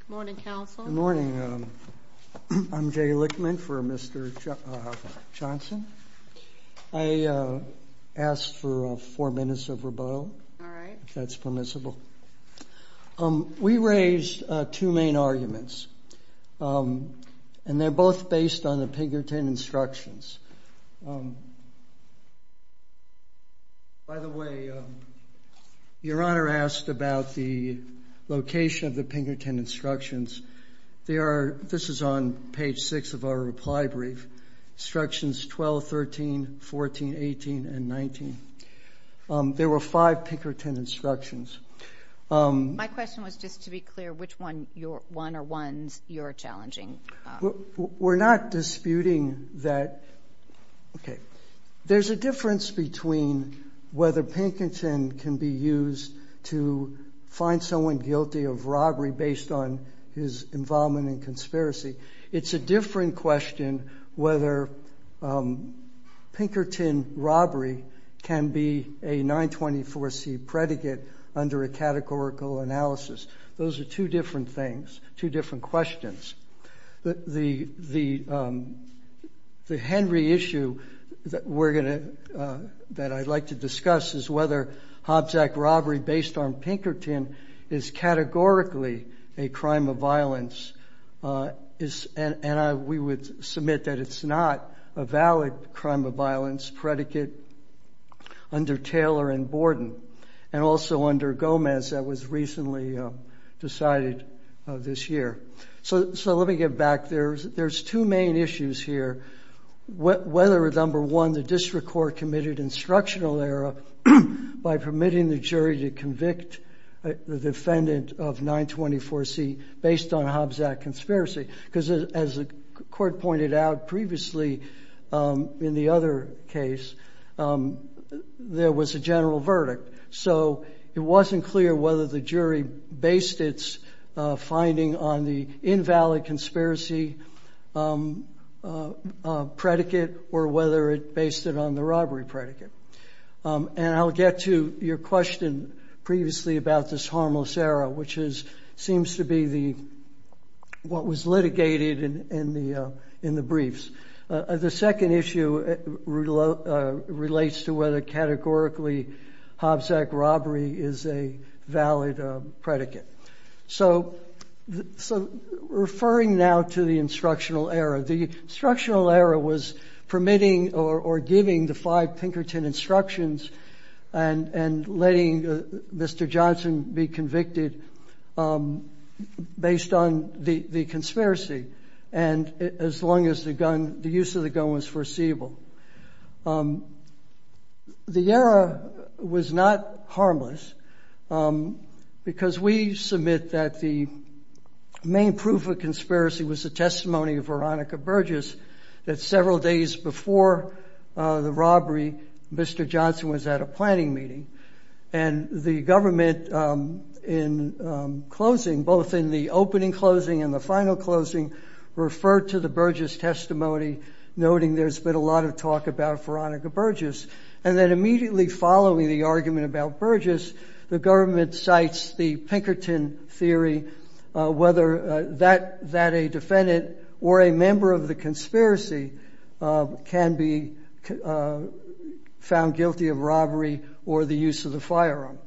Good morning, counsel. Good morning. I'm Jay Lichtman for Mr. Johnson. I ask for four minutes of rebuttal, if that's permissible. We raised two main arguments, and they're both based on the Pinkerton Instructions. By the way, Your Honor asked about the location of the Pinkerton Instructions. This is on page six of our reply brief. Instructions 12, 13, 14, 18, and 19. There were five Pinkerton Instructions. My question was just to be clear, which one are ones you're challenging? We're not disputing that. There's a difference between whether Pinkerton can be used to find someone guilty of robbery based on his involvement in conspiracy. It's a different question whether Pinkerton robbery can be a 924c predicate under a categorical analysis. Those are two different things, two different questions. The Henry issue that I'd like to discuss is whether Hobbs Act robbery based on Pinkerton is categorically a crime of violence. We would submit that it's not a valid crime of violence predicate under Taylor and Borden, and also under Gomez that was recently decided this year. Let me get back. There's two main issues here. Whether, number one, the district court committed instructional error by permitting the jury to convict the defendant of 924c based on Hobbs Act conspiracy, as the court pointed out previously in the other case, there was a general verdict. It wasn't clear whether the jury based its finding on the invalid conspiracy predicate or whether it based it on the robbery predicate. I'll get to your question previously about this harmless error, which seems to be what was litigated in the briefs. The second issue relates to whether categorically Hobbs Act robbery is a valid predicate. Referring now to the instructional error, the instructional error was permitting or giving the five Pinkerton instructions and letting Mr. Johnson be convicted based on the conspiracy, and as long as the use of the gun was foreseeable. The error was not harmless because we submit that the main proof of conspiracy was the testimony of Veronica Burgess that several days before the robbery, Mr. Johnson was at a planning meeting, and the government in closing, both in the opening closing and the final closing, referred to the Burgess testimony, noting there's been a lot of talk about Veronica Burgess, and then immediately following the argument about Burgess, the government cites the Pinkerton theory, whether that a defendant or a member of the conspiracy can be found guilty of robbery or the use of the firearm.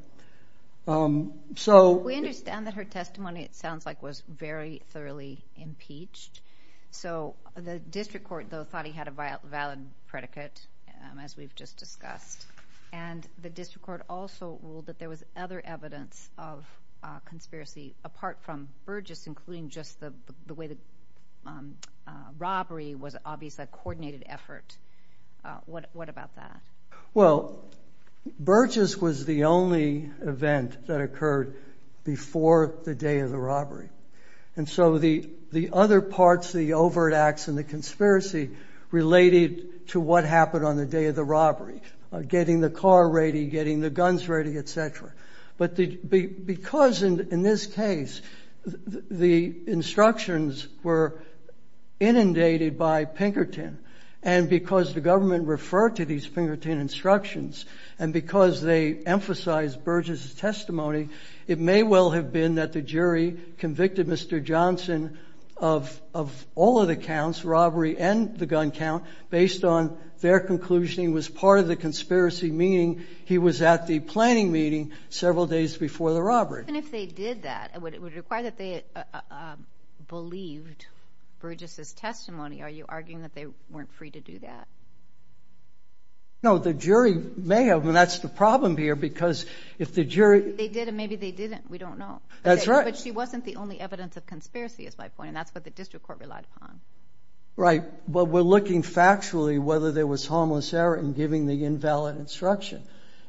We understand that her testimony, it sounds like, was very thoroughly impeached, so the district court, though, thought he had a valid predicate, as we've just discussed, and the district court also ruled that there was other evidence of conspiracy apart from Burgess, including just the way the robbery was obviously a coordinated effort. What about that? Well, Burgess was the only event that occurred before the day of the robbery, and so the other parts, the overt acts and the conspiracy related to what happened on the day of the robbery, getting the car ready, getting the guns ready, etc. But because, in this case, the instructions were inundated by Pinkerton, and because the government referred to these Pinkerton instructions, and because they emphasized Burgess' testimony, it may well have been that the jury convicted Mr. Johnson of all of the counts, robbery and the gun count, based on their conclusion he was part of the conspiracy, meaning he was at the planning meeting several days before the robbery. And if they did that, would it require that they believed Burgess' testimony? Are you arguing that they weren't free to do that? No, the jury may have, and that's the problem here, because if the jury... They did, and maybe they didn't. We don't know. That's right. But she wasn't the only evidence of conspiracy, is my point, and that's what the district court relied upon. Right, but we're looking factually whether there was harmless error in giving the invalid instruction.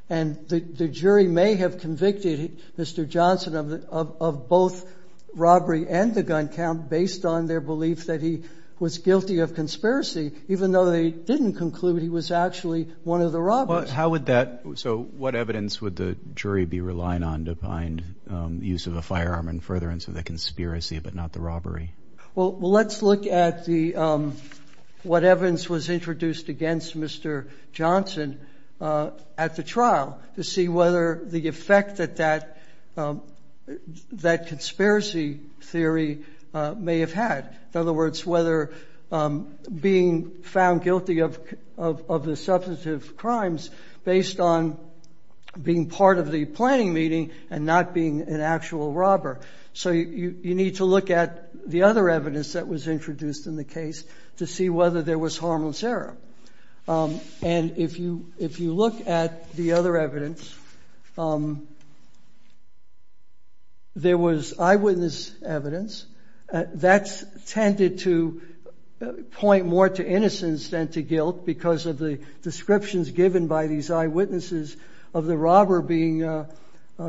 And the jury may have convicted Mr. Johnson of both robbery and the gun count, based on their belief that he was guilty of conspiracy, even though they didn't conclude he was actually one of the robbers. How would that... So what evidence would the jury be relying on to find use of a firearm and further into the conspiracy, but not the robbery? Well, let's look at what evidence was introduced against Mr. Johnson at the trial to see whether the effect that that conspiracy theory may have had. In other words, whether being found guilty of the substantive crimes based on being part of the planning meeting and not being an actual robber. So you need to look at the other evidence that was introduced in the case to see whether there was harmless error. And if you look at the other evidence, there was eyewitness evidence that's tended to point more to innocence than to guilt because of the descriptions given by these eyewitnesses of the robber being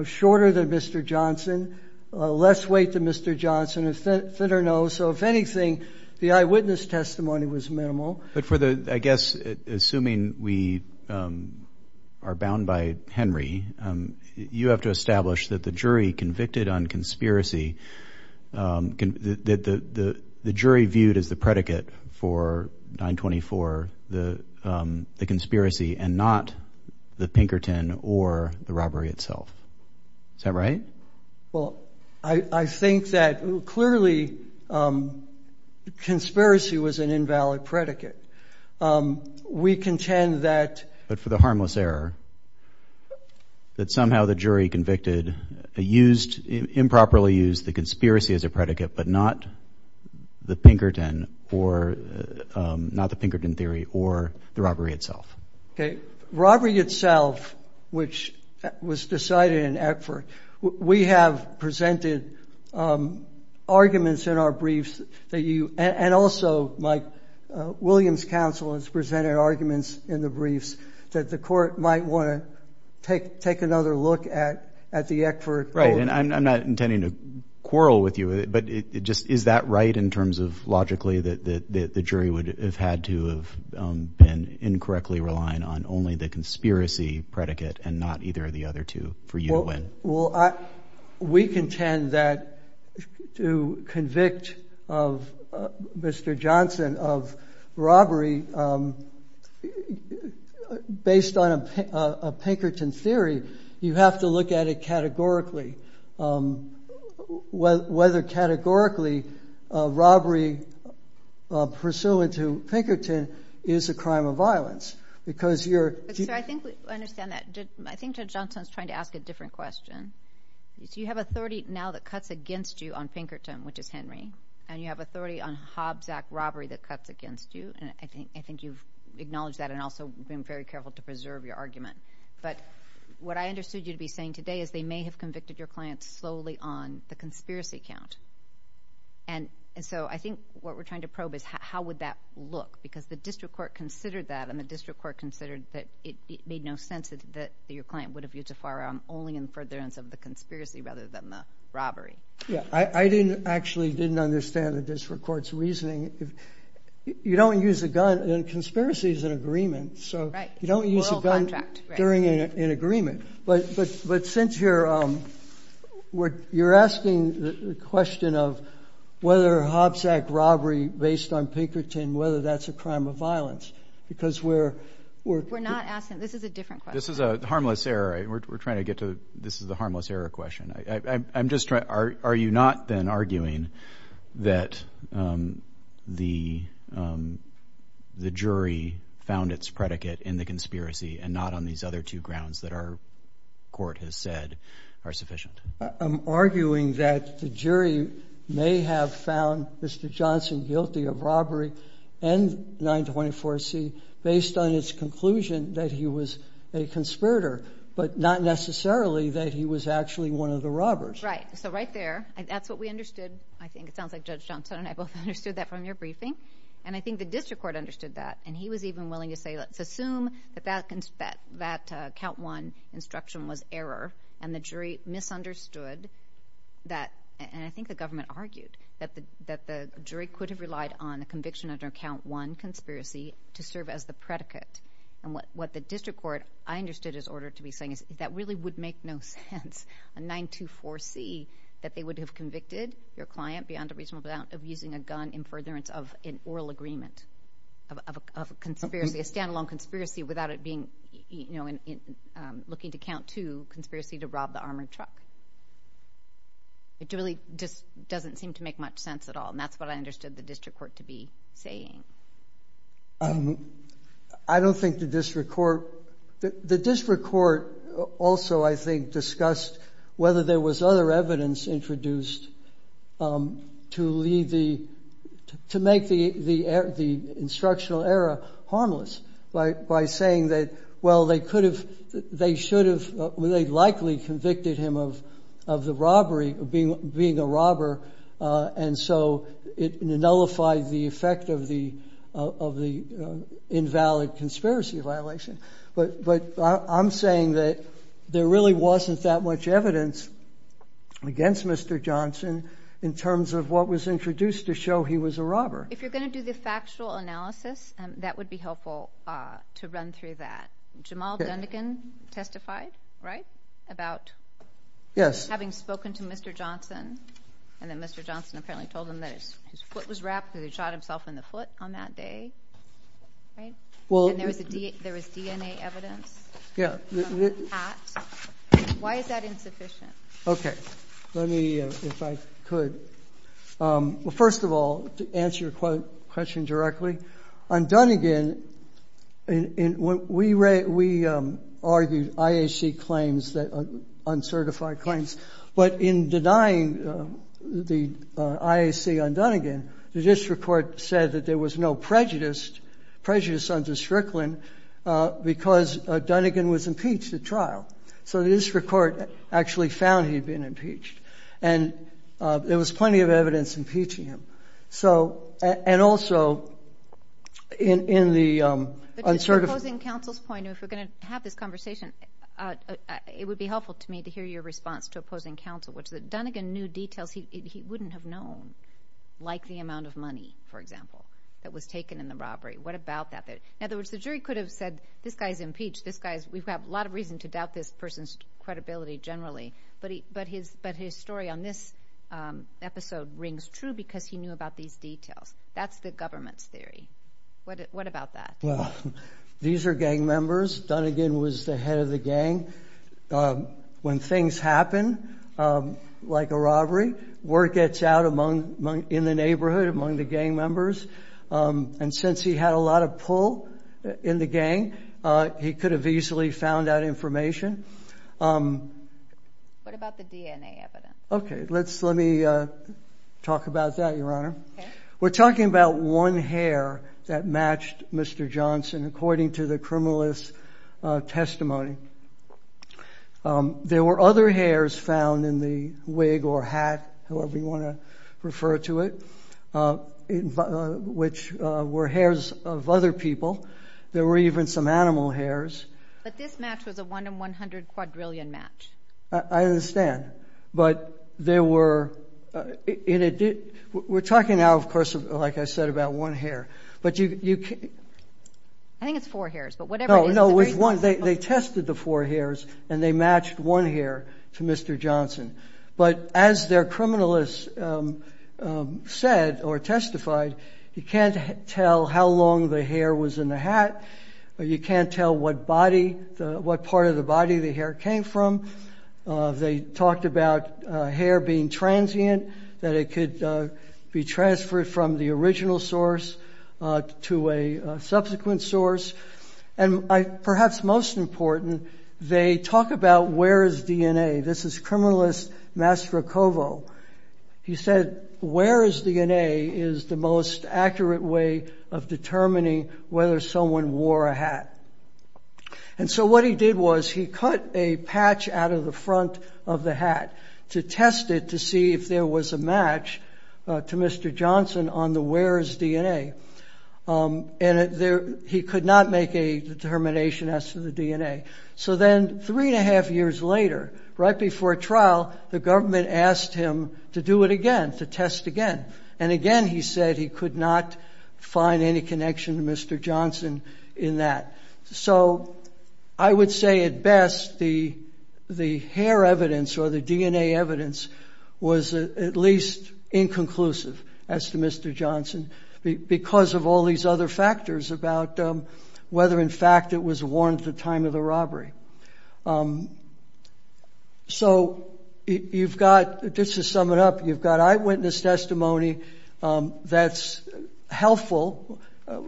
shorter than Mr. Johnson, less weight than Mr. Johnson, thinner nose. So if anything, the eyewitness testimony was minimal. But for the, I guess, assuming we are bound by Henry, you have to establish that the jury convicted on conspiracy, that the jury viewed as the predicate for 924, the conspiracy and not the Pinkerton or the robbery itself. Is that right? Well, I think that clearly conspiracy was an invalid predicate. We contend that... But for the harmless error, that somehow the jury convicted, used, improperly used the conspiracy as a predicate, but not the Pinkerton or not the Pinkerton theory or the robbery itself. Okay. Robbery itself, which was decided in Eckford. We have presented arguments in our briefs that you, and also, Mike Williams' counsel has presented arguments in the briefs that the court might want to take another look at the Eckford. Right. And I'm not intending to quarrel with you, but it just, is that right in terms of logically that the jury would have had to have been incorrectly relying on only the conspiracy predicate and not either of the other two for you to win? Well, we contend that to convict of Mr. Johnson of robbery, based on a Pinkerton theory, you have to look at it categorically. Whether categorically, robbery pursuant to Pinkerton is a crime of violence, because you're... So I think we understand that. I think Judge Johnson's trying to ask a different question. You have authority now that cuts against you on Pinkerton, which is Henry, and you have authority on Hobbs Act robbery that cuts against you, and I think you've acknowledged that and also been very careful to preserve your argument. But what I understood you to be saying today is they may have convicted your client slowly on the conspiracy count. And so I think what we're trying to probe is how would that look? Because the district court considered that, and the district court considered that it made no sense that your client would have used a firearm only in furtherance of the conspiracy rather than the robbery. Yeah, I actually didn't understand the district court's reasoning. You don't use a gun, and conspiracy is an agreement, so you don't use a gun during an agreement. But since you're asking the question of whether Hobbs Act robbery based on Pinkerton, whether that's a crime of violence, because we're... We're not asking... This is a different question. This is a harmless error. We're trying to get to... This is the harmless error question. I'm just trying... Are you not then arguing that the jury found its predicate in the conspiracy and not on these other two grounds that our court has said are sufficient? I'm arguing that the jury may have found Mr. Johnson guilty of robbery and 924C based on its conclusion that he was a conspirator, but not necessarily that he was actually one of the robbers. Right. So right there, that's what we understood. I think it sounds like Judge Johnson and I both understood that from your briefing, and I think the district court understood that, and he was even willing to say, let's assume that that count one instruction was error, and the jury misunderstood that, and I think the government argued that the jury could have relied on a conviction under count one conspiracy to serve as the predicate. And what the district court, I understood, is ordered to be saying is that really would make no sense. A 924C, that they would have convicted your client beyond a reasonable doubt of using a gun in furtherance of an oral agreement of a conspiracy, a standalone conspiracy, without it being, you know, looking to count two conspiracy to rob the armored truck. It really just doesn't seem to make much sense at all, and that's what I understood the district court to be saying. I don't think the district court, the district court also, I think, discussed whether there was other evidence introduced to lead the, to make the instructional error harmless, by saying that, well, they could have, they should have, they likely convicted him of the robbery, being a robber, and so it nullified the effect of the invalid conspiracy violation. But I'm saying that there really wasn't that much evidence against Mr. Johnson in terms of what was introduced to show he was a robber. If you're going to do the factual analysis, that would be helpful to run through that. Jamal Dundigan testified, right, about having spoken to Mr. Johnson, and then Mr. Johnson apparently told him that his foot was wrapped, that he shot himself in the foot on that day, right? And there was DNA evidence from that. Why is that insufficient? Okay, let me, if I could, well, first of all, to answer your question directly, on Dundigan, we argued IAC claims that, uncertified claims, but in denying the IAC on Dundigan, the district court said that there was no prejudice, prejudice under Strickland, because Dundigan was impeached at trial. So the district court actually found he'd been impeached, and there was plenty of evidence impeaching him. So, and also, in the uncertified- But just opposing counsel's point, if we're going to have this conversation, it would be helpful to me to hear your response to opposing counsel, which is that Dundigan knew details he wouldn't have known, like the amount of money, for example, that was taken in the robbery. What about that? In other words, the jury could have said, this guy's impeached, this guy's, we have a lot of reason to doubt this person's credibility generally. But his story on this episode rings true, because he knew about these details. That's the government's theory. What about that? Well, these are gang members. Dundigan was the head of the gang. When things happen, like a robbery, word gets out in the neighborhood, among the gang members. And since he had a lot of pull in the gang, he could have easily found out information. What about the DNA evidence? Okay, let's, let me talk about that, Your Honor. We're talking about one hair that matched Mr. Johnson, according to the criminalist's testimony. There were other hairs found in the wig or hat, however you want to refer to it, which were hairs of other people. There were even some animal hairs. But this match was a one in 100 quadrillion match. I understand. But there were, we're talking now, of course, like I said, about one hair. But you can... I think it's four hairs, but whatever it is... No, it was one. They tested the four hairs, and they matched one hair to Mr. Johnson. But as their criminalist said or testified, you can't tell how long the hair was in the hat. You can't tell what body, what part of the body the hair came from. They talked about hair being transient, that it could be transferred from the original source to a subsequent source. And perhaps most important, they talk about where is DNA. This is criminalist Mastrocovo. He said, where is DNA is the most accurate way of determining whether someone wore a hat. And so what he did was he cut a patch out of the front of the hat to test it to see if there was a match to Mr. Johnson on the where is DNA. And he could not make a determination as to the DNA. So then three and a half years later, right before trial, the government asked him to do it again, to test again. And again, he said he could not find any connection to Mr. Johnson in that. So I would say at best, the hair evidence or the DNA evidence was at least inconclusive as to Mr. Johnson because of all these other factors about whether, in fact, it was warned at the time of the robbery. So you've got, just to sum it up, you've got eyewitness testimony that's helpful,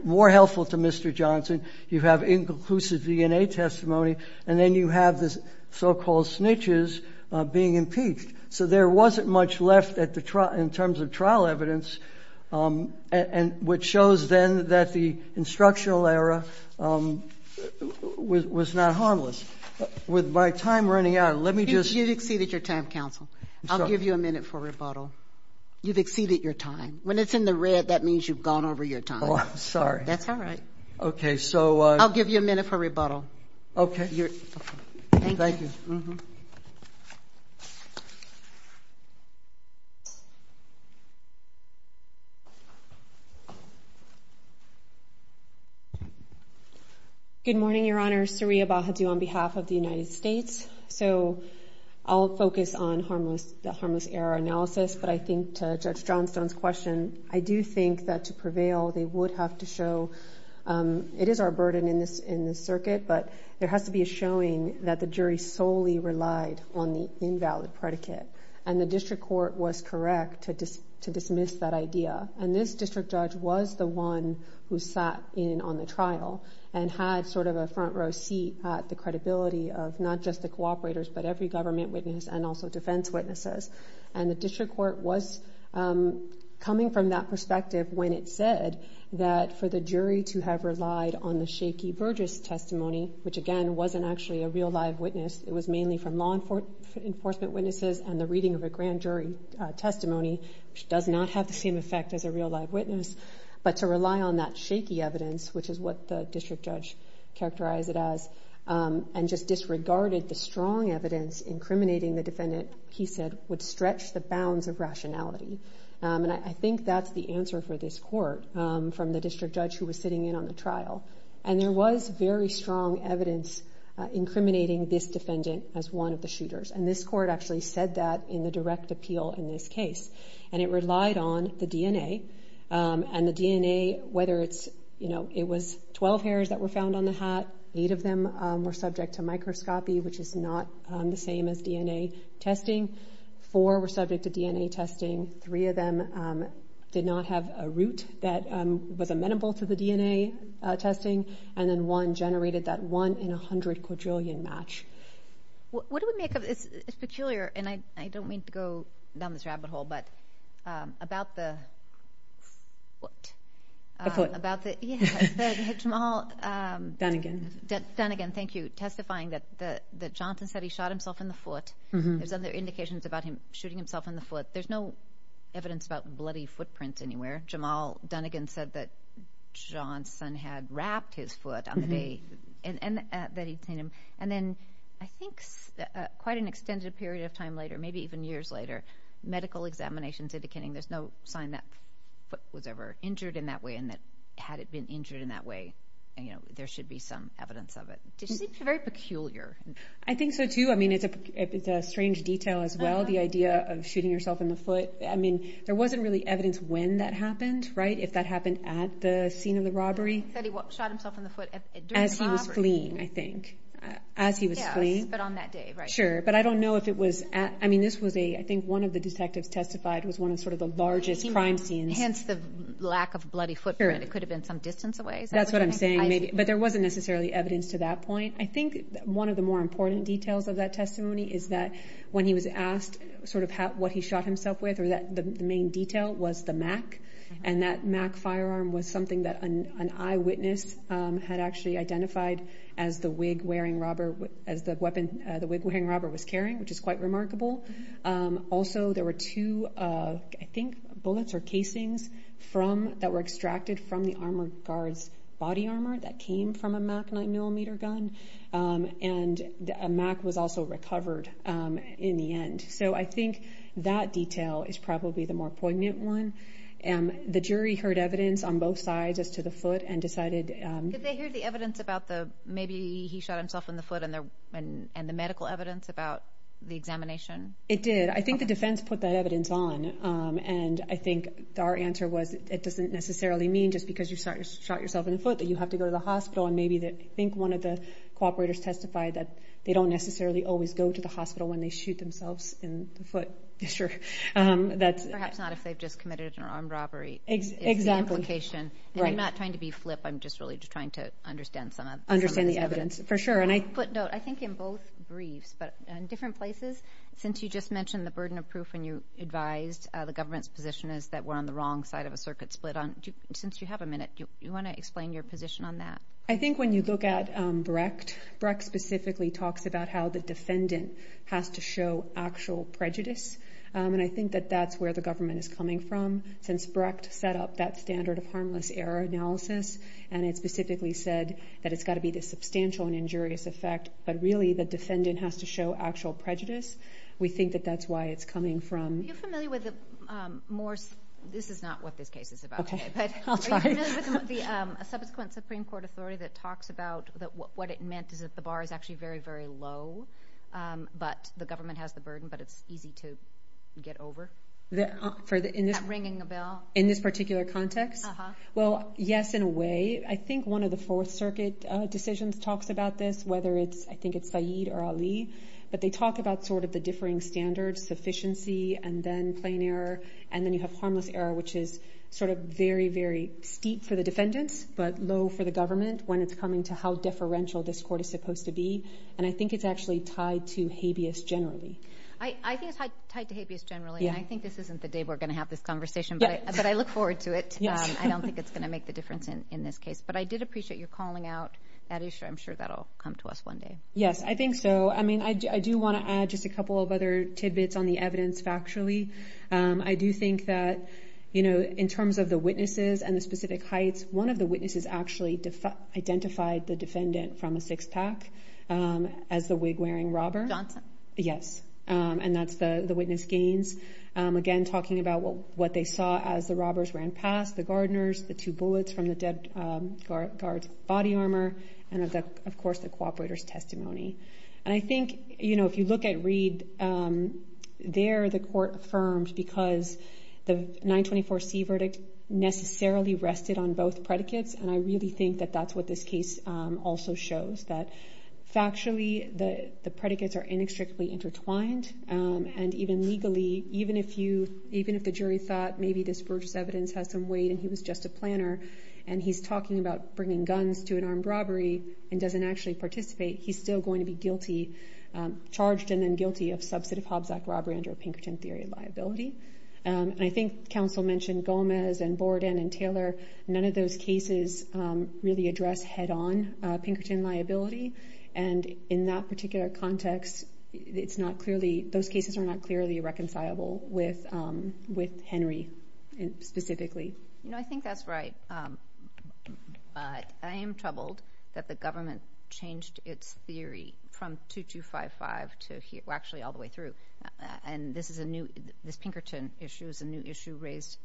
more helpful to Mr. Johnson. You have inconclusive DNA testimony. And then you have the so-called snitches being impeached. So there wasn't much left in terms of trial evidence, and which shows then that the instructional era was not harmless. With my time running out, let me just... You've exceeded your time, counsel. I'll give you a minute for rebuttal. You've exceeded your time. When it's in the red, that means you've gone over your time. Oh, I'm sorry. That's all right. Okay, so... I'll give you a minute for rebuttal. Okay. Thank you. Good morning, Your Honor. Saria Bahadur on behalf of the United States. So I'll focus on the harmless error analysis, but I think to Judge Johnstone's question, I do think that to prevail, they would have to show... It is our burden in this circuit, but there has to be a showing that the jury solely relied on the invalid predicate. And the district court was correct to dismiss that idea. And this district judge was the one who sat in on the trial and had sort of a front row seat at the credibility of not just the cooperators, but every government witness and also defense witnesses. And the district court was coming from that perspective when it said that for the jury to have relied on the shaky Burgess testimony, which again, wasn't actually a real live witness. It was mainly from law enforcement witnesses and the reading of a grand jury testimony, which does not have the same effect as a real live witness. But to rely on that shaky evidence, which is what the district judge characterized it as, and just disregarded the strong evidence incriminating the defendant, he said, would stretch the bounds of rationality. And I think that's the answer for this court from the district judge who was sitting in on the trial. And there was very strong evidence incriminating this defendant as one of the shooters. And this court actually said that in the direct appeal in this case. And it relied on the DNA. And the DNA, whether it's, you know, it was 12 hairs that were found on the hat. Eight of them were subject to microscopy, which is not the same as DNA testing. Four were subject to DNA testing. Three of them did not have a root that was amenable to the DNA testing. And then one generated that one in a hundred quadrillion match. What do we make of this? And I don't mean to go down this rabbit hole, but about the foot, about the small... Done again. Done again. Thank you. Testifying that Johnson said he shot himself in the foot. There's other indications about him shooting himself in the foot. There's no evidence about bloody footprints anywhere. Jamal Dunnigan said that Johnson had wrapped his foot on the day that he'd seen him. And then I think quite an extended period of time later, maybe even years later, medical examinations indicating there's no sign that foot was ever injured in that way. And that had it been injured in that way, you know, there should be some evidence of it. It seems very peculiar. I think so too. I mean, it's a strange detail as well. The idea of shooting yourself in the foot. I mean, there wasn't really evidence when that happened, right? If that happened at the scene of the robbery. That he shot himself in the foot during the robbery. As he was fleeing, I think. As he was fleeing. But on that day, right? Sure. But I don't know if it was at... I mean, this was a... I think one of the detectives testified was one of sort of the largest crime scenes. Hence the lack of bloody footprint. It could have been some distance away. Is that what you're saying? That's what I'm saying. But there wasn't necessarily evidence to that point. I think one of the more important details of that testimony is that when he was asked sort of what he shot himself with. Or that the main detail was the MAC. And that MAC firearm was something that an eyewitness had actually identified as the wig wearing robber. As the weapon, the wig wearing robber was carrying. Which is quite remarkable. Also, there were two, I think, bullets or casings from... That were extracted from the armored guard's body armor. That came from a MAC 9mm gun. And a MAC was also recovered in the end. So I think that detail is probably the more poignant one. The jury heard evidence on both sides as to the foot and decided... Did they hear the evidence about the... Maybe he shot himself in the foot and the medical evidence about the examination? It did. I think the defense put that evidence on. And I think our answer was it doesn't necessarily mean just because you shot yourself in the foot that you have to go to the hospital. I think one of the cooperators testified that they don't necessarily always go to the hospital when they shoot themselves in the foot. Perhaps not if they've just committed an armed robbery. Exactly. It's the implication. And I'm not trying to be flip. I'm just really just trying to understand some of the evidence. Understand the evidence, for sure. And I... Footnote. I think in both briefs, but in different places, since you just mentioned the burden of proof when you advised the government's position is that we're on the wrong side of a circuit split on... Since you have a minute, do you want to explain your position on that? I think when you look at Brecht, Brecht specifically talks about how the defendant has to show actual prejudice. And I think that that's where the government is coming from. Since Brecht set up that standard of harmless error analysis, and it specifically said that it's got to be the substantial and injurious effect. But really, the defendant has to show actual prejudice. We think that that's why it's coming from... Are you familiar with the Morse? This is not what this case is about. Okay, I'll try. A subsequent Supreme Court authority that talks about what it meant is that the bar is actually very, very low, but the government has the burden, but it's easy to get over. Ringing a bell. In this particular context? Well, yes, in a way. I think one of the Fourth Circuit decisions talks about this, whether it's... I think it's Said or Ali, but they talk about the differing standards, sufficiency and then plain error. And then you have harmless error, which is sort of very, very steep for the defendants, but low for the government when it's coming to how deferential this court is supposed to be. And I think it's actually tied to habeas generally. I think it's tied to habeas generally. And I think this isn't the day we're going to have this conversation, but I look forward to it. I don't think it's going to make the difference in this case. But I did appreciate your calling out that issue. I'm sure that'll come to us one day. Yes, I think so. I mean, I do want to add just a couple of other tidbits on the evidence factually. I do think that in terms of the witnesses and the specific heights, one of the witnesses actually identified the defendant from a six-pack as the wig-wearing robber. Johnson? Yes. And that's the witness gains. Again, talking about what they saw as the robbers ran past, the gardeners, the two bullets from the dead guard's body armor, and of course, the cooperator's testimony. And I think if you look at Reed, there, the court affirmed because the 924C verdict necessarily rested on both predicates. And I really think that that's what this case also shows, that factually, the predicates are inextricably intertwined. And even legally, even if the jury thought maybe this Burgess evidence has some weight and he was just a planner, and he's talking about bringing guns to an armed robbery and doesn't actually participate, he's still going to be guilty, charged and then guilty of substantive Hobbs Act robbery under Pinkerton theory of liability. And I think counsel mentioned Gomez and Borden and Taylor. None of those cases really address head-on Pinkerton liability. And in that particular context, it's not clearly, those cases are not clearly reconcilable with Henry specifically. You know, I think that's right. But I am troubled that the government changed its theory from 2255 to here, well, actually all the way through. And this is a new, this Pinkerton issue is a new issue raised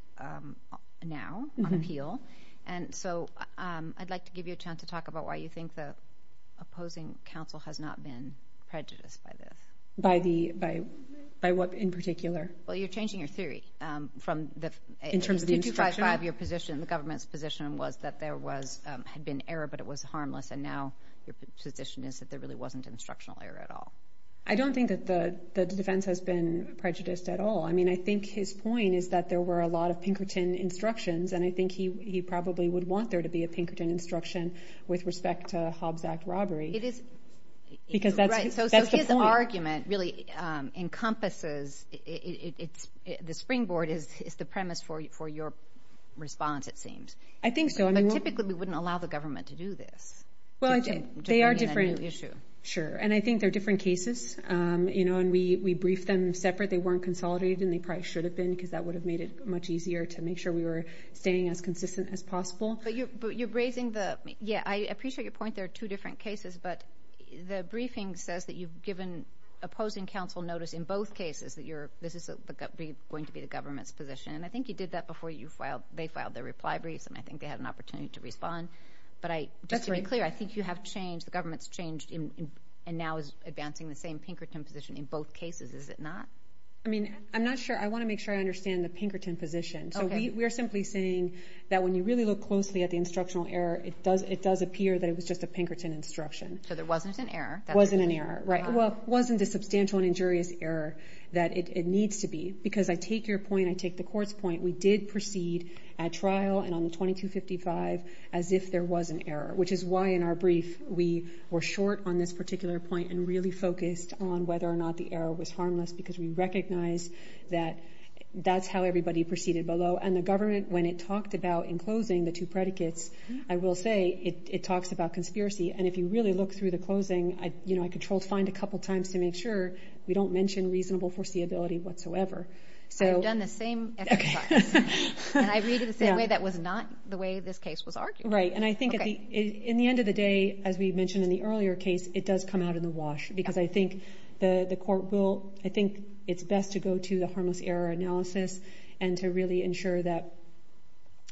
now on appeal. And so I'd like to give you a chance to talk about why you think the opposing counsel has not been prejudiced by the... By the, by what in particular? Well, you're changing your theory from the... In terms of the instruction? 2255, your position, the government's position was that there was, had been error, but it was harmless. And now your position is that there really wasn't instructional error at all. I don't think that the defense has been prejudiced at all. I mean, I think his point is that there were a lot of Pinkerton instructions. And I think he probably would want there to be a Pinkerton instruction with respect to Hobbs Act robbery. It is... Because that's the point. So his argument really encompasses, the springboard is the premise for your response, it seems. I think so. But typically we wouldn't allow the government to do this. Well, they are different. Sure. And I think they're different cases, and we briefed them separate, they weren't consolidated, and they probably should have been, because that would have made it much easier to make sure we were staying as consistent as possible. But you're raising the... Yeah, I appreciate your point, there are two different cases, but the briefing says that you've given opposing counsel notice in both cases, that you're, this is going to be the government's position. And I think you did that before you filed, they filed their reply briefs, and I think they had an opportunity to respond. But I, just to be clear, the government's changed, and now is advancing the same Pinkerton position in both cases, is it not? I mean, I'm not sure, I wanna make sure I understand the Pinkerton position. So we are simply saying that when you really look closely at the instructional error, it does appear that it was just a Pinkerton instruction. So there wasn't an error. Wasn't an error, right. Well, it wasn't a substantial and injurious error that it needs to be. Because I take your point, I take the court's point, we did proceed at trial and on the 2255 as if there was an error, which is why in our brief, we were short on this particular point and really focused on whether or not the error was harmless, because we recognize that that's how everybody proceeded below. And the government, when it talked about enclosing the two predicates, I will say it talks about conspiracy. And if you really look through the closing, you know, I controlled find a couple of times to make sure we don't mention reasonable foreseeability whatsoever. So I've done the same exercise. And I read it the same way that was not the way this case was argued. Right. And I think at the end of the day, as we mentioned in the earlier case, it does come out in the wash, because I think the court will, I think it's best to go to the harmless error analysis and to really ensure that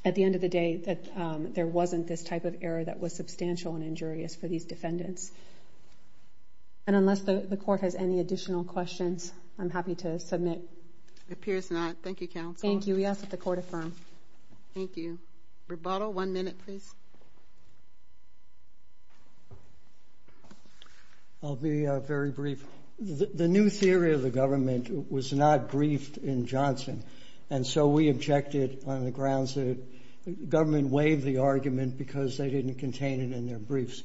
at the end of the day, that there wasn't this type of error that was substantial and injurious for these defendants. And unless the court has any additional questions, I'm happy to submit. It appears not. Thank you, counsel. Thank you. We ask that the court affirm. Thank you. Rebuttal. One minute, please. I'll be very brief. The new theory of the government was not briefed in Johnson. And so we objected on the grounds that the government waived the argument because they didn't contain it in their briefs.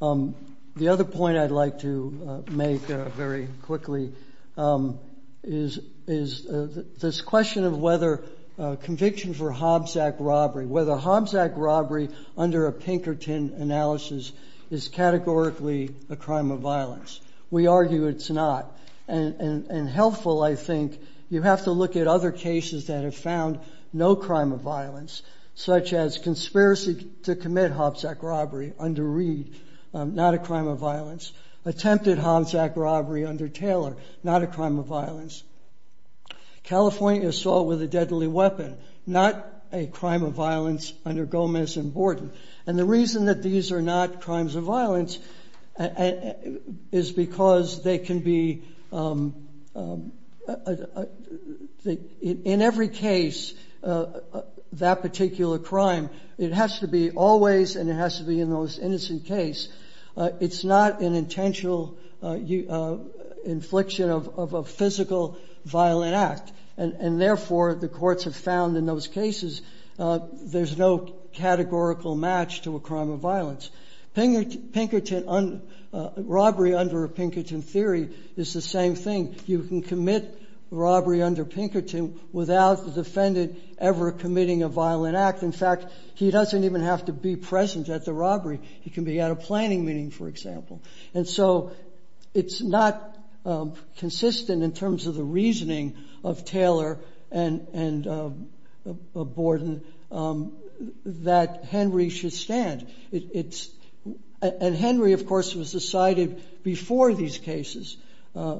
The other point I'd like to make very quickly is this question of whether conviction for Hobbs Act robbery, whether Hobbs Act robbery under a Pinkerton analysis is categorically a crime of violence. We argue it's not. And helpful, I think, you have to look at other cases that have found no crime of violence, such as conspiracy to commit Hobbs Act robbery under Reed, not a crime of violence, attempted Hobbs Act robbery under Taylor, not a crime of violence, California assault with a deadly weapon, not a crime of violence under Gomez and Borden. And the reason that these are not crimes of violence is because they can be, in every case, that particular crime, it has to be always and it has to be in those innocent case. It's not an intentional infliction of a physical violent act. And therefore, the courts have found in those cases, there's no categorical match to a crime of violence. Robbery under a Pinkerton theory is the same thing. You can commit robbery under Pinkerton without the defendant ever committing a violent act. In fact, he doesn't even have to be present at the robbery. He can be at a planning meeting, for example. And so it's not consistent in terms of the reasoning of Taylor and Borden that Henry should stand. And Henry, of course, was decided before these cases,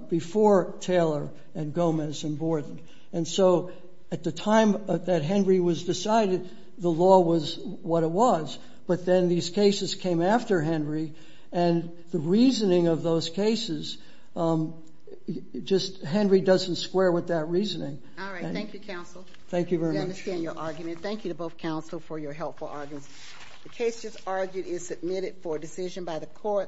before Taylor and Gomez and Borden. And so at the time that Henry was decided, the law was what it was. But then these cases came after Henry, and the reasoning of those cases, just Henry doesn't square with that reasoning. All right. Thank you, counsel. Thank you very much. I understand your argument. Thank you to both counsel for your helpful arguments. The case just argued is submitted for decision by the court.